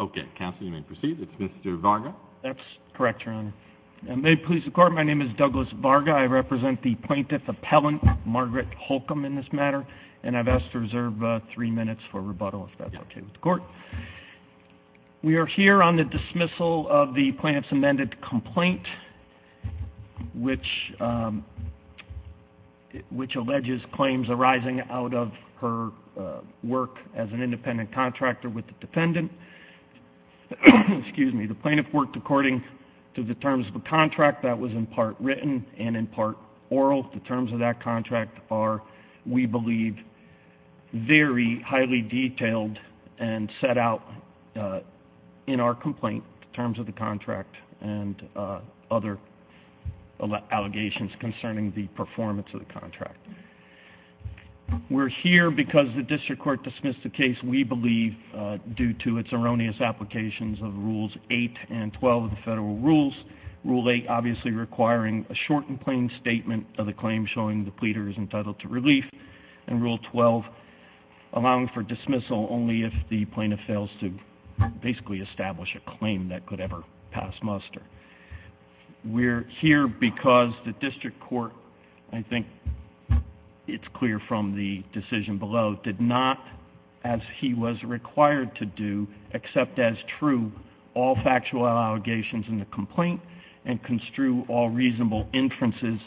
Okay, Counsel, you may proceed. It's Mr. Varga. That's correct, Your Honor. May it please the Court, my name is Douglas Varga. I represent the Plaintiff Appellant, Margaret Holcombe, in this matter, and I've asked to reserve three minutes for rebuttal if that's okay with the Court. We are here on the dismissal of the Plaintiff's amended complaint, which alleges claims arising out of her work as an independent contractor with the defendant. The Plaintiff worked according to the terms of a contract that was in part written and in part oral. The terms of that contract are, we believe, very highly detailed and set out in our complaint, the terms of the contract and other allegations concerning the performance of the contract. We're here because the District Court dismissed the case, we believe, due to its erroneous applications of Rules 8 and 12 of the Federal Rules, Rule 8 obviously requiring a short and plain statement of the claim showing the pleader is entitled to relief, and Rule 12 allowing for dismissal only if the plaintiff fails to basically establish a claim that could ever pass muster. We're here because the District Court, I think it's clear from the decision below, did not, as he was required to do, accept as true all factual allegations in the complaint and construe all reasonable inferences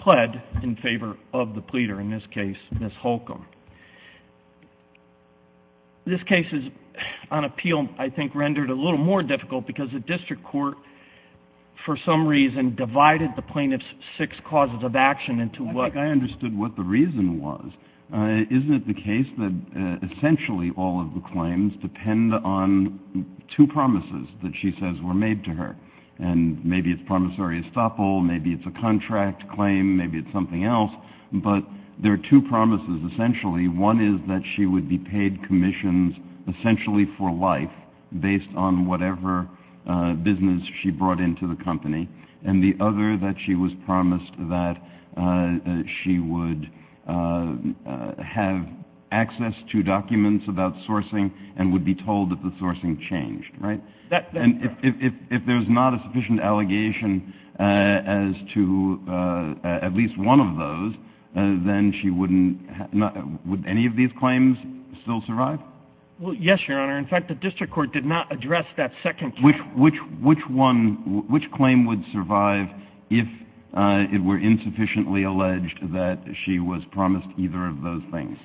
pled in favor of the pleader, in this case, Ms. Holcomb. This case is, on appeal, I think rendered a little more difficult because the District Court, for some reason, divided the Plaintiff's six causes of action into what I think I understood what the reason was. Isn't it the case that essentially all of the claims depend on two promises that she says were made to her, and maybe it's promissory estoppel, maybe it's a contract claim, maybe it's something else, but there are two promises essentially. One is that she would be paid commissions essentially for life based on whatever business she brought into the company, and the other that she was promised that she would have access to documents about sourcing and would be told that the sourcing changed, right? And if there's not a sufficient allegation as to at least one of those, then she wouldn't have, would any of these claims still survive? Well, yes, Your Honor. In fact, the District Court did not address that second case. Which one, which claim would survive if it were insufficiently alleged that she was promised either of those things?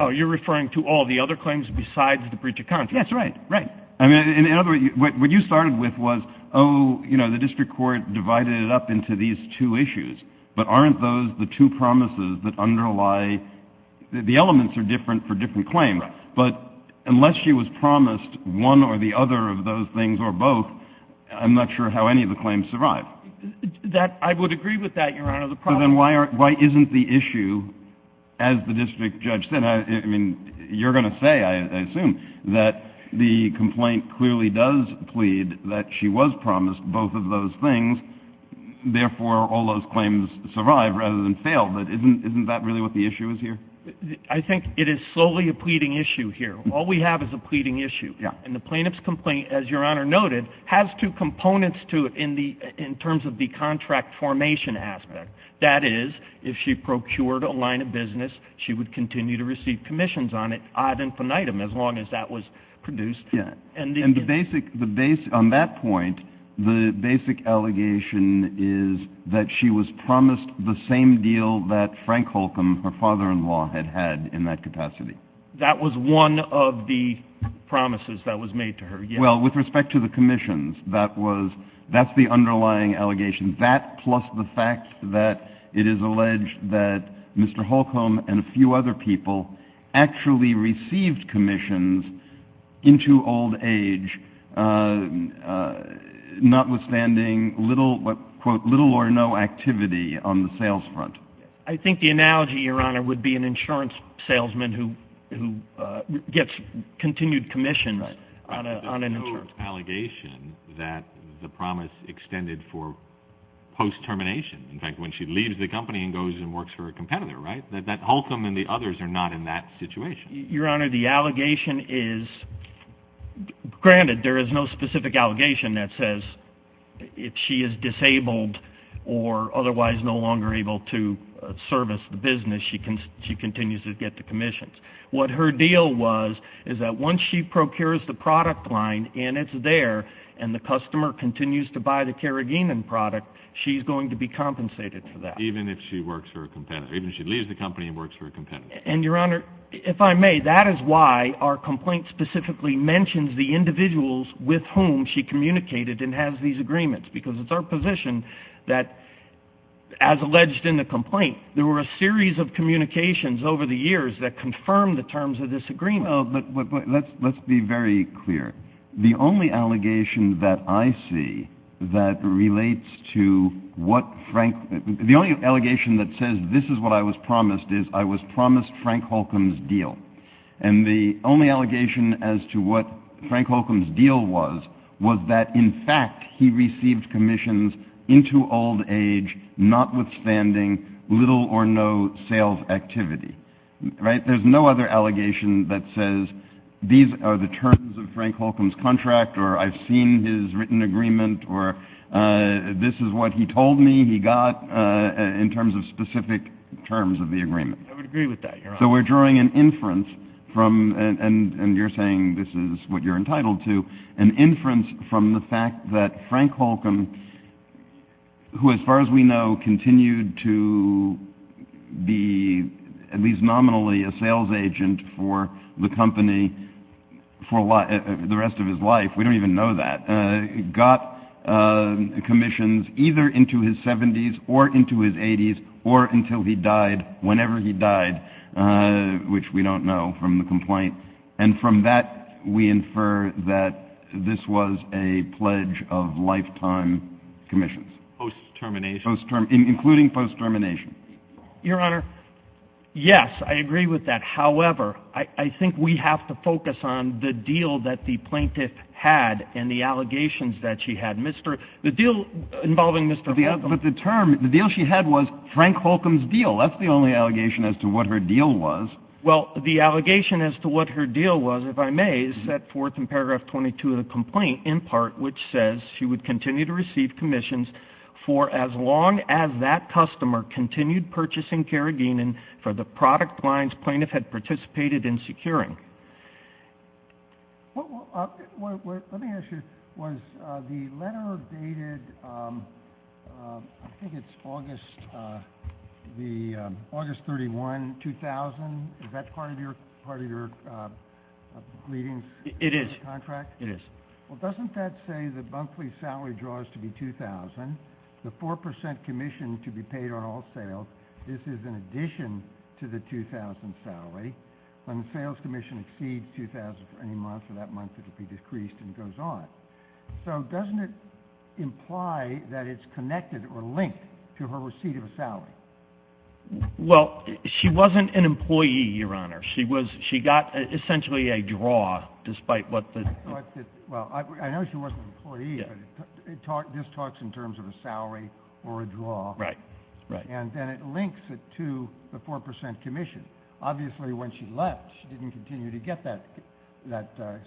Oh, you're referring to all the other claims besides the breach of contract? Yes, right, right. I mean, in other words, what you started with was, oh, you know, the District Court divided it up into these two issues, but aren't those the two promises that underlie, the elements are different for different claims. But unless she was promised one or the other of those things or both, I'm not sure how any of the claims survive. That I would agree with that, Your Honor. The problem is... So then why isn't the issue, as the district judge said, I mean, you're going to say, I assume, that the complaint clearly does plead that she was promised both of those things, therefore all those claims survive rather than fail, but isn't that really what the issue is here? I think it is slowly a pleading issue here. All we have is a pleading issue, and the plaintiff's complaint, as Your Honor noted, has two components to it in terms of the contract formation aspect. That is, if she procured a line of business, she would continue to receive commissions on it, ad infinitum, as long as that was produced. Yeah, and the basic, on that point, the basic allegation is that she was promised the same deal that Frank Holcomb, her father-in-law, had had in that capacity. That was one of the promises that was made to her, yes. Well, with respect to the commissions, that's the underlying allegation. That plus the fact that it is alleged that Mr. Holcomb and a few other people actually received commissions into old age, notwithstanding, quote, little or no activity on the sales front. I think the analogy, Your Honor, would be an insurance salesman who gets continued commission on an insurance. But there's no allegation that the promise extended for post-termination, in fact, when she leaves the company and goes and works for a competitor, right? That Holcomb and the others are not in that situation. Your Honor, the allegation is, granted, there is no specific allegation that says if she is disabled or otherwise no longer able to service the business, she continues to get the commissions. What her deal was is that once she procures the product line and it's there and the customer continues to buy the Karaginan product, she's going to be compensated for that. Even if she works for a competitor, even if she leaves the company and works for a competitor. And Your Honor, if I may, that is why our complaint specifically mentions the individuals with whom she communicated and has these agreements. Because it's our position that, as alleged in the complaint, there were a series of communications over the years that confirmed the terms of this agreement. Well, but let's be very clear. The only allegation that I see that relates to what Frank, the only allegation that says this is what I was promised is I was promised Frank Holcomb's deal. And the only allegation as to what Frank Holcomb's deal was, was that in fact, he received commissions into old age, notwithstanding little or no sales activity, right? There's no other allegation that says these are the terms of Frank Holcomb's contract or I've seen his written agreement or this is what he told me he got in terms of specific terms of the agreement. I would agree with that, Your Honor. So we're drawing an inference from and you're saying this is what you're entitled to, an inference from the fact that Frank Holcomb, who, as far as we know, continued to be at least nominally a sales agent for the company for the rest of his life, we don't even know that, got commissions either into his 70s or into his 80s or until he died, whenever he died, which we don't know from the complaint. And from that, we infer that this was a pledge of lifetime commissions. Post-termination. Including post-termination. Your Honor, yes, I agree with that. However, I think we have to focus on the deal that the plaintiff had and the allegations that she had. The deal involving Mr. Holcomb. But the term, the deal she had was Frank Holcomb's deal. Well, that's the only allegation as to what her deal was. Well, the allegation as to what her deal was, if I may, is set forth in paragraph 22 of the complaint, in part, which says she would continue to receive commissions for as long as that customer continued purchasing Karaginan for the product lines plaintiff had participated in securing. Let me ask you, was the letter dated, I think it's August 31, 2000, is that part of your contract? It is. It is. Well, doesn't that say the monthly salary draws to be $2,000, the 4% commission to be paid on all sales, this is in addition to the $2,000 salary. When the sales commission exceeds $2,000 for any month, for that month it will be decreased and goes on. So doesn't it imply that it's connected or linked to her receipt of a salary? Well, she wasn't an employee, Your Honor. She was, she got essentially a draw, despite what the... Well, I know she wasn't an employee, but this talks in terms of a salary or a draw. Right, right. And then it links it to the 4% commission. Obviously, when she left, she didn't continue to get that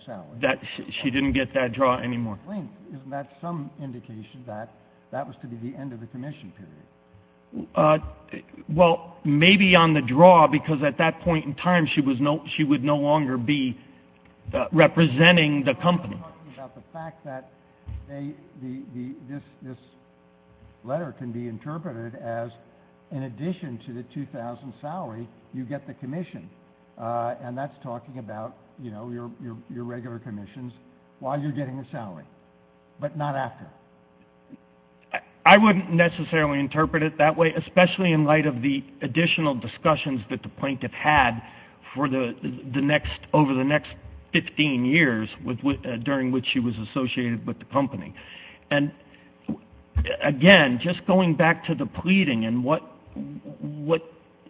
salary. She didn't get that draw anymore. Isn't that some indication that that was to be the end of the commission period? Well, maybe on the draw, because at that point in time she would no longer be representing the company. You're talking about the fact that this letter can be interpreted as in addition to the $2,000 salary, you get the commission, and that's talking about, you know, your regular commissions while you're getting the salary, but not after. I wouldn't necessarily interpret it that way, especially in light of the additional discussions that the plaintiff had for the next, over the next 15 years during which she was associated with the company. And again, just going back to the pleading and what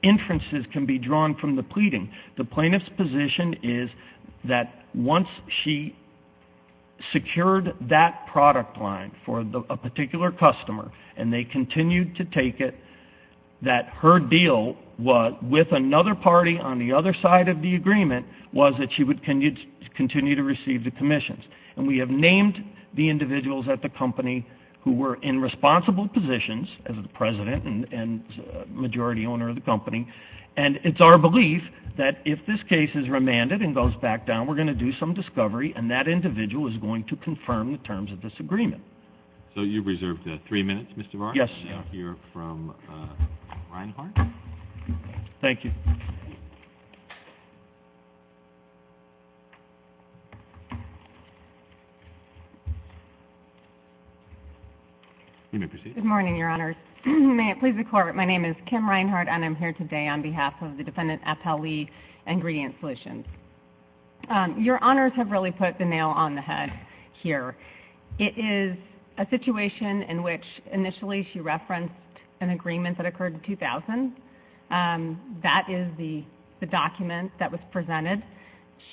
inferences can be drawn from the pleading, the plaintiff's position is that once she secured that product line for a particular customer and they continued to take it, that her deal with another party on the other side of the agreement was that she would continue to receive the commissions. And we have named the individuals at the company who were in responsible positions as the president and majority owner of the company, and it's our belief that if this case is remanded and goes back down, we're going to do some discovery and that individual is going to confirm the terms of this agreement. So you've reserved three minutes, Mr. Varn. Yes. We'll hear from Reinhart. Thank you. You may proceed. Good morning, Your Honors. May it please the Court, my name is Kim Reinhart and I'm here today on behalf of the defendant, Appel Lee, Ingredient Solutions. Your Honors have really put the nail on the head here. It is a situation in which initially she referenced an agreement that occurred in 2000. That is the document that was presented.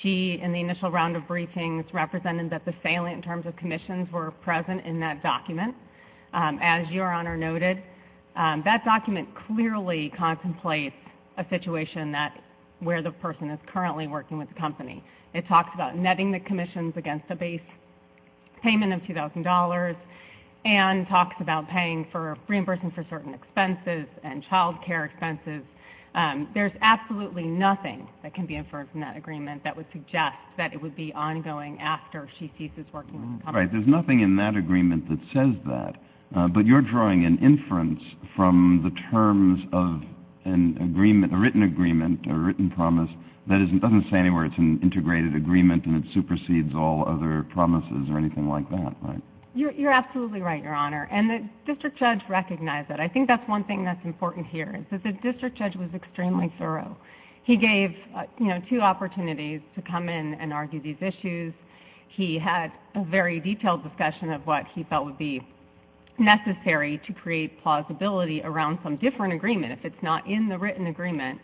She, in the initial round of briefings, represented that the salient terms of commissions were present in that document. As Your Honor noted, that document clearly contemplates a situation where the person is currently working with the company. It talks about netting the commissions against a base payment of $2,000 and talks about paying for, reimbursing for certain expenses and childcare expenses. There's absolutely nothing that can be inferred from that agreement that would suggest that it would be ongoing after she ceases working with the company. Right. There's nothing in that agreement that says that. But you're drawing an inference from the terms of an agreement, a written agreement, a written promise, that doesn't say anywhere it's an integrated agreement and it supersedes all other promises or anything like that, right? You're absolutely right, Your Honor. The district judge recognized that. I think that's one thing that's important here. The district judge was extremely thorough. He gave two opportunities to come in and argue these issues. He had a very detailed discussion of what he felt would be necessary to create plausibility around some different agreement if it's not in the written agreement,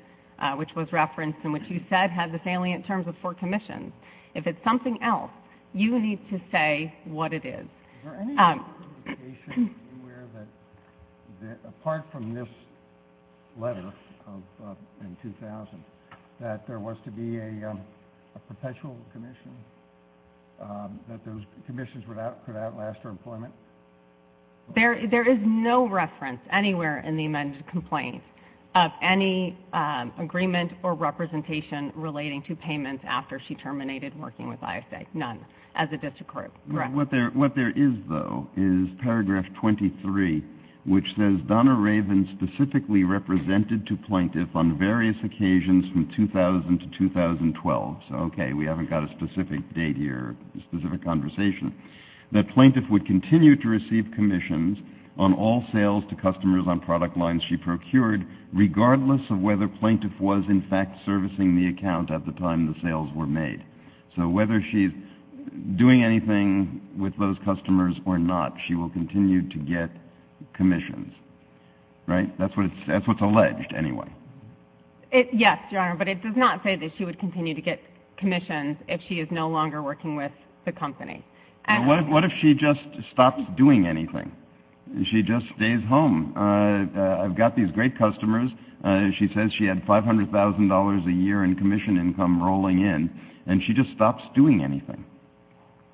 which was referenced and which you said had the salient terms of four commissions. If it's something else, you need to say what it is. Is there any indication anywhere that, apart from this letter in 2000, that there was to be a perpetual commission, that those commissions could outlast her employment? There is no reference anywhere in the amended complaint of any agreement or representation relating to payments after she terminated working with ISA. None. As a district group. Right. What there is, though, is paragraph 23, which says Donna Raven specifically represented to plaintiff on various occasions from 2000 to 2012. So, okay, we haven't got a specific date here, specific conversation. That plaintiff would continue to receive commissions on all sales to customers on product lines she procured, regardless of whether plaintiff was in fact servicing the account at the time the sales were made. So whether she's doing anything with those customers or not, she will continue to get commissions. Right? That's what's alleged, anyway. Yes, Your Honor. But it does not say that she would continue to get commissions if she is no longer working with the company. What if she just stops doing anything? She just stays home. I've got these great customers. She says she had $500,000 a year in commission income rolling in, and she just stops doing anything.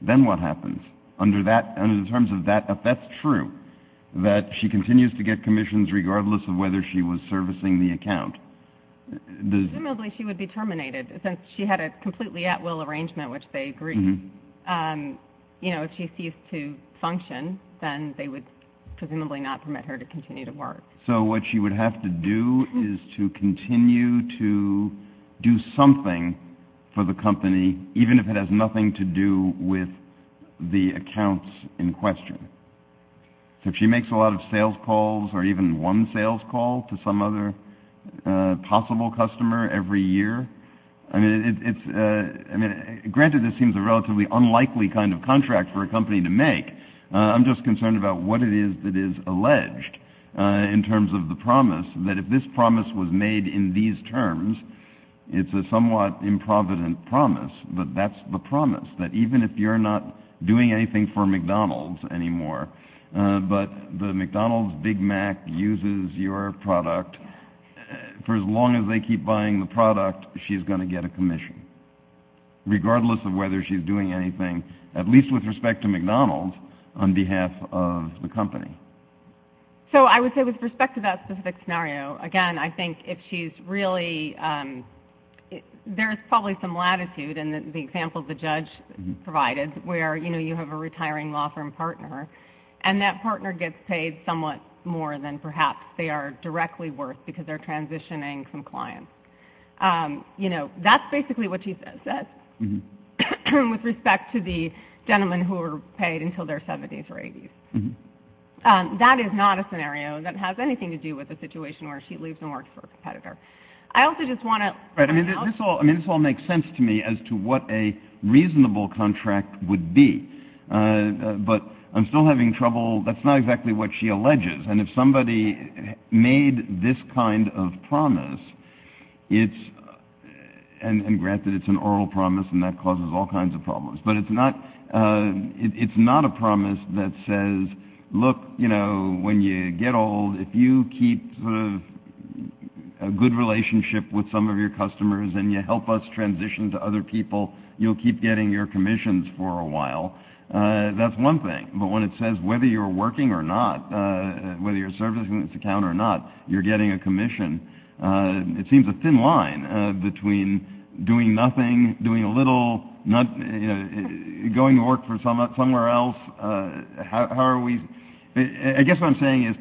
Then what happens? Under the terms of that, if that's true, that she continues to get commissions regardless of whether she was servicing the account? Presumably she would be terminated, since she had a completely at-will arrangement, which they agreed. You know, if she ceased to function, then they would presumably not permit her to continue to work. So what she would have to do is to continue to do something for the company, even if it has nothing to do with the accounts in question. So if she makes a lot of sales calls or even one sales call to some other possible customer every year, I mean, granted this seems a relatively unlikely kind of contract for a company to make. I'm just concerned about what it is that is alleged in terms of the promise, that if this promise was made in these terms, it's a somewhat improvident promise. But that's the promise, that even if you're not doing anything for McDonald's anymore, but the McDonald's Big Mac uses your product, for as long as they keep buying the product, she's going to get a commission, regardless of whether she's doing anything, at least with respect to McDonald's, on behalf of the company. So I would say, with respect to that specific scenario, again, I think if she's really — there's probably some latitude in the example the judge provided, where, you know, you have a retiring law firm partner, and that partner gets paid somewhat more than perhaps they are directly worth, because they're transitioning some clients. You know, that's basically what she says, with respect to the gentlemen who were paid until their 70s or 80s. That is not a scenario that has anything to do with the situation where she leaves and works for a competitor. I also just want to — Right, I mean, this all makes sense to me as to what a reasonable contract would be. But I'm still having trouble — that's not exactly what she alleges. And if somebody made this kind of promise, it's — and granted, it's an oral promise, and that causes all kinds of problems. But it's not — it's not a promise that says, look, you know, when you get old, if you keep sort of a good relationship with some of your customers and you help us transition to other people, you'll keep getting your commissions for a while. That's one thing. But when it says whether you're working or not, whether you're servicing this account or not, you're getting a commission, it seems a thin line between doing nothing, doing a little, going to work for somewhere else. How are we — I guess what I'm saying is,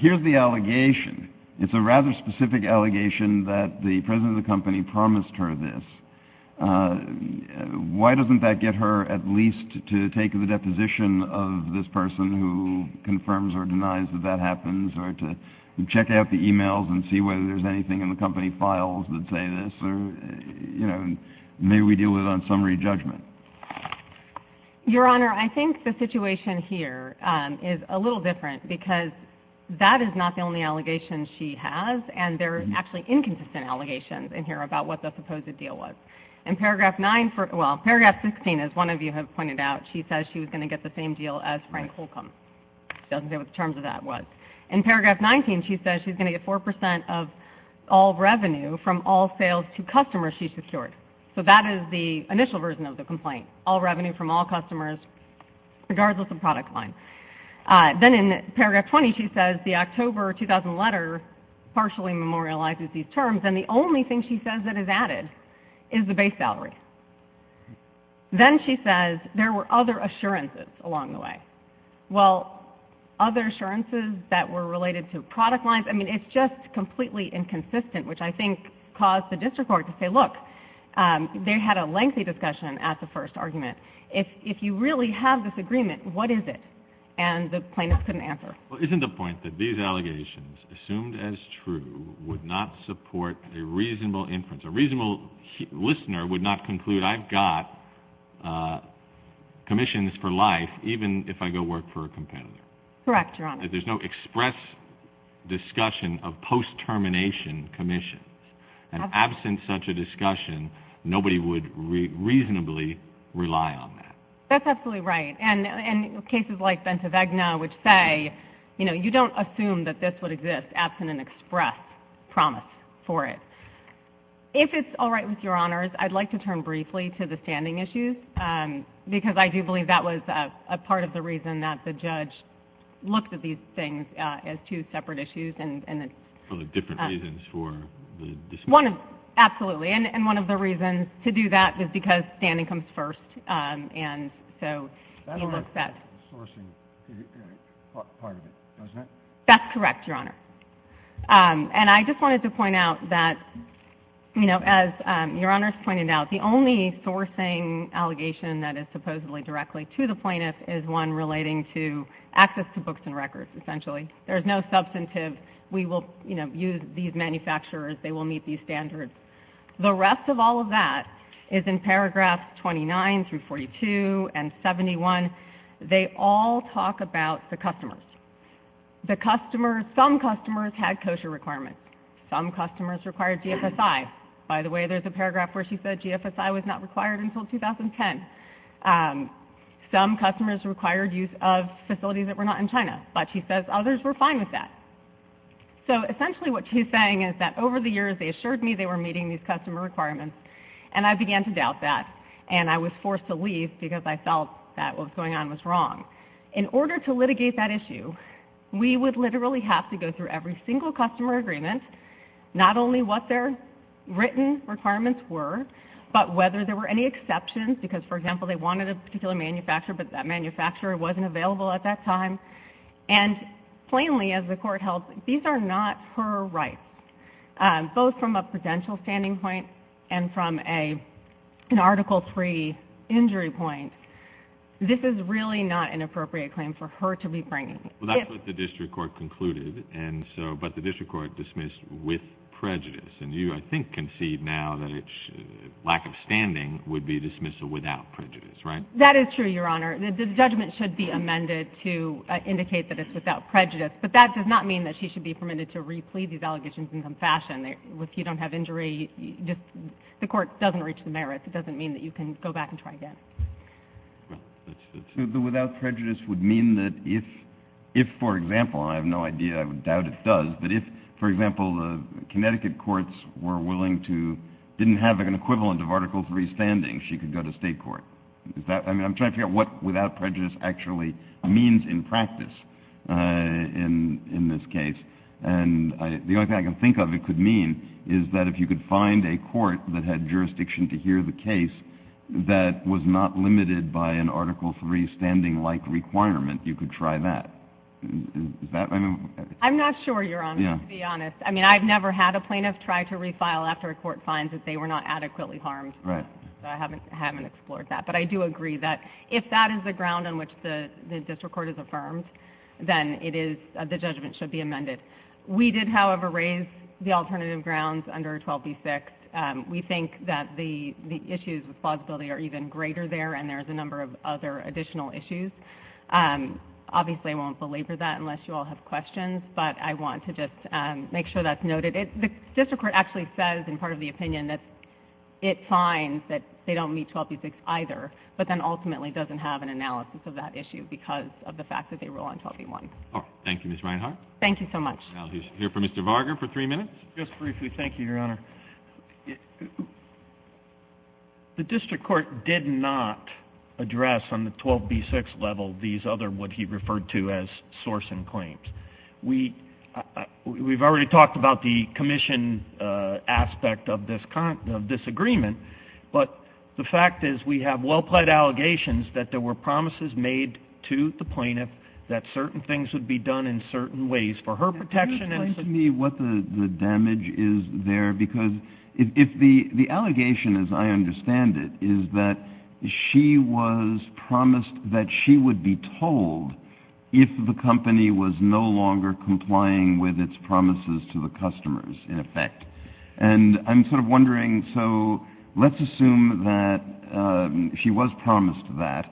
here's the allegation. It's a rather specific allegation that the president of the company promised her this. Why doesn't that get her at least to take the deposition of this person who confirms or denies that that happens, or to check out the emails and see whether there's anything in the company files that say this? Or, you know, maybe we deal with it on summary judgment. Your Honor, I think the situation here is a little different, because that is not the only allegation she has, and there are actually inconsistent allegations in here about what the supposed deal was. In Paragraph 9 — well, Paragraph 16, as one of you have pointed out, she says she was going to get the same deal as Frank Holcomb. She doesn't say what the terms of that was. In Paragraph 19, she says she's going to get 4 percent of all revenue from all sales to customers she secured. So that is the initial version of the complaint, all revenue from all customers, regardless of product line. Then in Paragraph 20, she says the October 2000 letter partially memorializes these terms, and the only thing she says that is added is the base salary. Then she says there were other assurances along the way. Well, other assurances that were related to product lines — I mean, it's just completely inconsistent, which I think caused the district court to say, look, they had a lengthy discussion at the first argument. If you really have this agreement, what is it? And the plaintiffs couldn't answer. Well, isn't the point that these allegations, assumed as true, would not support a reasonable inference? A reasonable listener would not conclude, I've got commissions for life, even if I go work for a competitor. Correct, Your Honor. There's no express discussion of post-termination commissions. And absent such a discussion, nobody would reasonably rely on that. That's absolutely right. And cases like Bente Vegna, which say, you know, you don't assume that this would exist absent an express promise for it. If it's all right with Your Honors, I'd like to turn briefly to the standing issues, because I do believe that was a part of the reason that the judge looked at these things as two separate issues. For the different reasons for the dispute? Absolutely. And one of the reasons to do that was because standing comes first, and so he looked at That's correct, Your Honor. And I just wanted to point out that, you know, as Your Honors pointed out, the only sourcing allegation that is supposedly directly to the plaintiff is one relating to access to books and records, essentially. There's no substantive, we will, you know, use these manufacturers, they will meet these standards. The rest of all of that is in paragraphs 29 through 42 and 71. They all talk about the customers. The customers, some customers had kosher requirements. Some customers required GFSI. By the way, there's a paragraph where she said GFSI was not required until 2010. Some customers required use of facilities that were not in China. But she says others were fine with that. So essentially what she's saying is that over the years they assured me they were meeting these customer requirements, and I began to doubt that, and I was forced to leave because I felt that what was going on was wrong. In order to litigate that issue, we would literally have to go through every single customer agreement, not only what their written requirements were, but whether there were any exceptions, because, for example, they wanted a particular manufacturer, but that manufacturer wasn't available at that time. And plainly, as the court held, these are not her rights, both from a prudential standing point and from an Article III injury point. This is really not an appropriate claim for her to be bringing. Well, that's what the district court concluded, but the district court dismissed with prejudice, and you, I think, concede now that lack of standing would be dismissal without prejudice, right? That is true, Your Honor. The judgment should be amended to indicate that it's without prejudice, but that does not mean that she should be permitted to re-plead these allegations in some fashion. If you don't have injury, the court doesn't reach the merits. It doesn't mean that you can go back and try again. So the without prejudice would mean that if, for example, I have no idea, I would doubt it does, but if, for example, the Connecticut courts were willing to, didn't have an equivalent of Article III standing, she could go to state court. I mean, I'm trying to figure out what without prejudice actually means in practice in this case. And the only thing I can think of it could mean is that if you could find a court that had jurisdiction to hear the case that was not limited by an Article III standing-like requirement, you could try that. Is that what I mean? I'm not sure, Your Honor, to be honest. I mean, I've never had a plaintiff try to refile after a court finds that they were not adequately harmed. Right. So I haven't explored that. But I do agree that if that is the ground on which the district court has affirmed, then it is, the judgment should be amended. We did, however, raise the alternative grounds under 12b6. We think that the issues of plausibility are even greater there, and there's a number of other additional issues. Obviously, I won't belabor that unless you all have questions, but I want to just make sure that's noted. The district court actually says, in part of the opinion, that it finds that they don't meet 12b6 either, but then ultimately doesn't have an analysis of that issue because of the fact that they rule on 12b1. All right. Thank you, Ms. Reinhart. Thank you so much. Now we'll hear from Mr. Varga for three minutes. Just briefly, thank you, Your Honor. The district court did not address on the 12b6 level these other what he referred to as sourcing claims. We've already talked about the commission aspect of this agreement, but the fact is we have well-pled allegations that there were promises made to the plaintiff that certain things would be done in certain ways for her protection. Can you explain to me what the damage is there? Because if the allegation, as I understand it, is that she was promised that she would be told if the company was no longer complying with its promises to the customers, in effect. And I'm sort of wondering, so let's assume that she was promised that,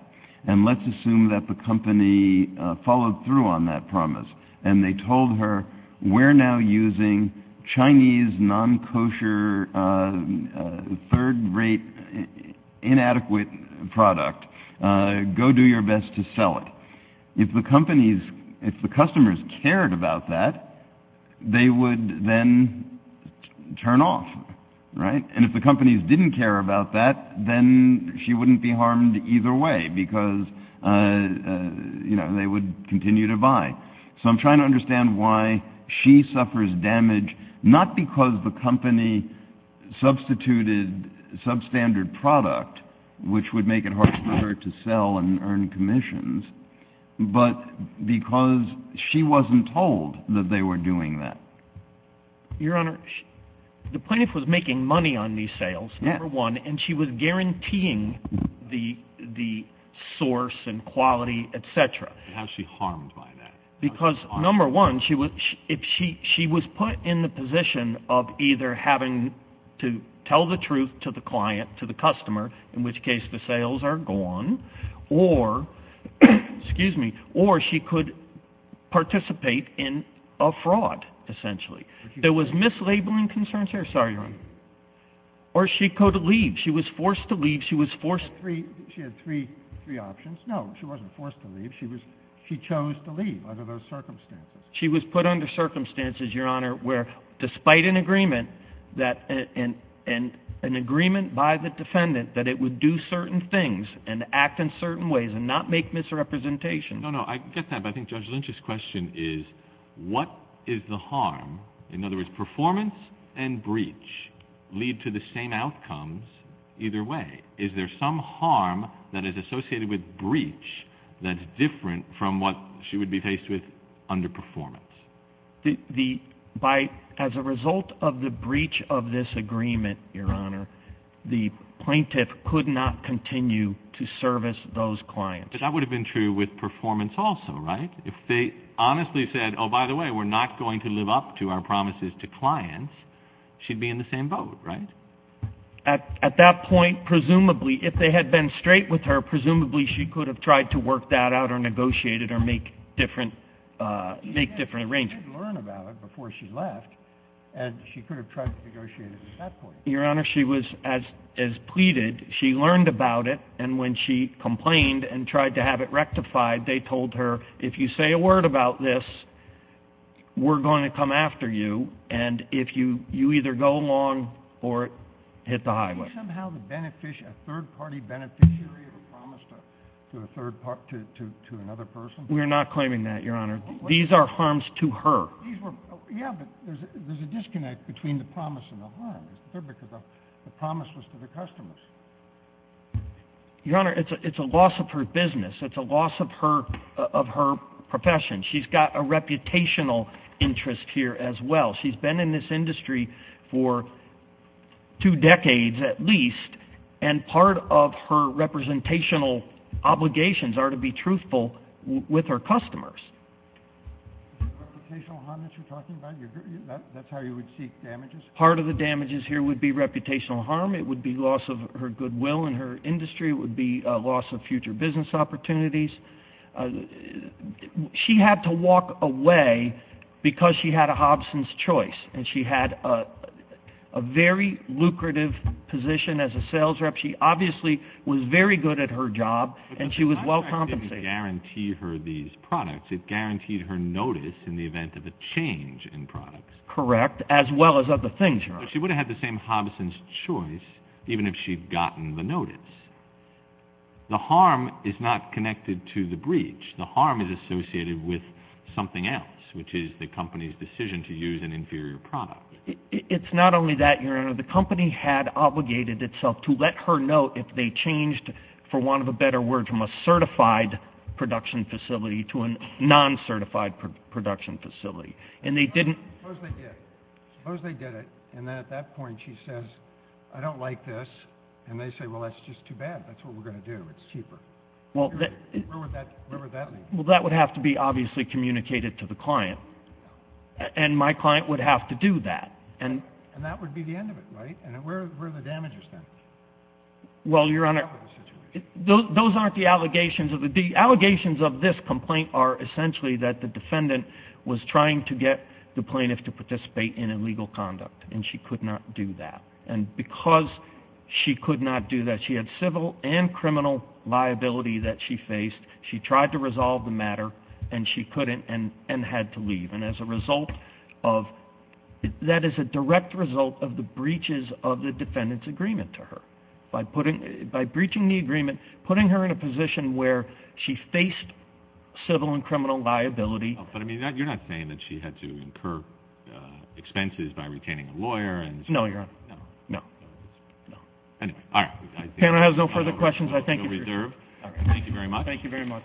and let's assume that the company followed through on that promise, and they told her, we're now using Chinese non-kosher third-rate inadequate product. Go do your best to sell it. If the companies, if the customers cared about that, they would then turn off, right? And if the companies didn't care about that, then she wouldn't be harmed either way because, you know, they would continue to buy. So I'm trying to understand why she suffers damage, not because the company substituted substandard product, which would make it harder for her to sell and earn commissions, but because she wasn't told that they were doing that. Your Honor, the plaintiff was making money on these sales, number one, and she was guaranteeing the source and quality, et cetera. How is she harmed by that? Because, number one, she was put in the position of either having to tell the truth to the client, to the customer, in which case the sales are gone, or she could participate in a fraud, essentially. There was mislabeling concerns here. Sorry, Your Honor. Or she could leave. She was forced to leave. She was forced to leave. She had three options. No, she wasn't forced to leave. She chose to leave under those circumstances. She was put under circumstances, Your Honor, where despite an agreement by the defendant that it would do certain things and act in certain ways and not make misrepresentation. No, no, I get that, but I think Judge Lynch's question is what is the harm? In other words, performance and breach lead to the same outcomes either way. Is there some harm that is associated with breach that's different from what she would be faced with under performance? As a result of the breach of this agreement, Your Honor, the plaintiff could not continue to service those clients. But that would have been true with performance also, right? If they honestly said, oh, by the way, we're not going to live up to our promises to clients, she'd be in the same boat, right? At that point, presumably, if they had been straight with her, presumably she could have tried to work that out or negotiated or make different arrangements. She had to learn about it before she left, and she could have tried to negotiate it at that point. Your Honor, she was, as pleaded, she learned about it, and when she complained and tried to have it rectified, they told her, if you say a word about this, we're going to come after you. And if you either go along or hit the highway. Is there somehow a third-party beneficiary of a promise to another person? We're not claiming that, Your Honor. These are harms to her. Yeah, but there's a disconnect between the promise and the harm. The promise was to the customers. Your Honor, it's a loss of her business. It's a loss of her profession. She's got a reputational interest here as well. She's been in this industry for two decades at least, and part of her representational obligations are to be truthful with her customers. Is it reputational harm that you're talking about? That's how you would seek damages? Part of the damages here would be reputational harm. It would be loss of her goodwill in her industry. It would be a loss of future business opportunities. She had to walk away because she had a Hobson's Choice, and she had a very lucrative position as a sales rep. She obviously was very good at her job, and she was well compensated. But the contract didn't guarantee her these products. It guaranteed her notice in the event of a change in products. Correct, as well as other things, Your Honor. But she would have had the same Hobson's Choice even if she'd gotten the notice. The harm is not connected to the breach. The harm is associated with something else, which is the company's decision to use an inferior product. It's not only that, Your Honor. The company had obligated itself to let her know if they changed, for want of a better word, from a certified production facility to a non-certified production facility, and they didn't. Suppose they did. Suppose they did it, and then at that point she says, I don't like this, and they say, well, that's just too bad. That's what we're going to do. It's cheaper. Where would that lead? Well, that would have to be obviously communicated to the client, and my client would have to do that. And that would be the end of it, right? Where are the damages then? Well, Your Honor, those aren't the allegations. The allegations of this complaint are essentially that the defendant was trying to get the plaintiff to participate in illegal conduct, and she could not do that. And because she could not do that, she had civil and criminal liability that she faced. She tried to resolve the matter, and she couldn't and had to leave. And that is a direct result of the breaches of the defendant's agreement to her. By breaching the agreement, putting her in a position where she faced civil and criminal liability. But, I mean, you're not saying that she had to incur expenses by retaining a lawyer. No, Your Honor. No. All right. If the panel has no further questions, I thank you for your time. Thank you very much. Thank you very much.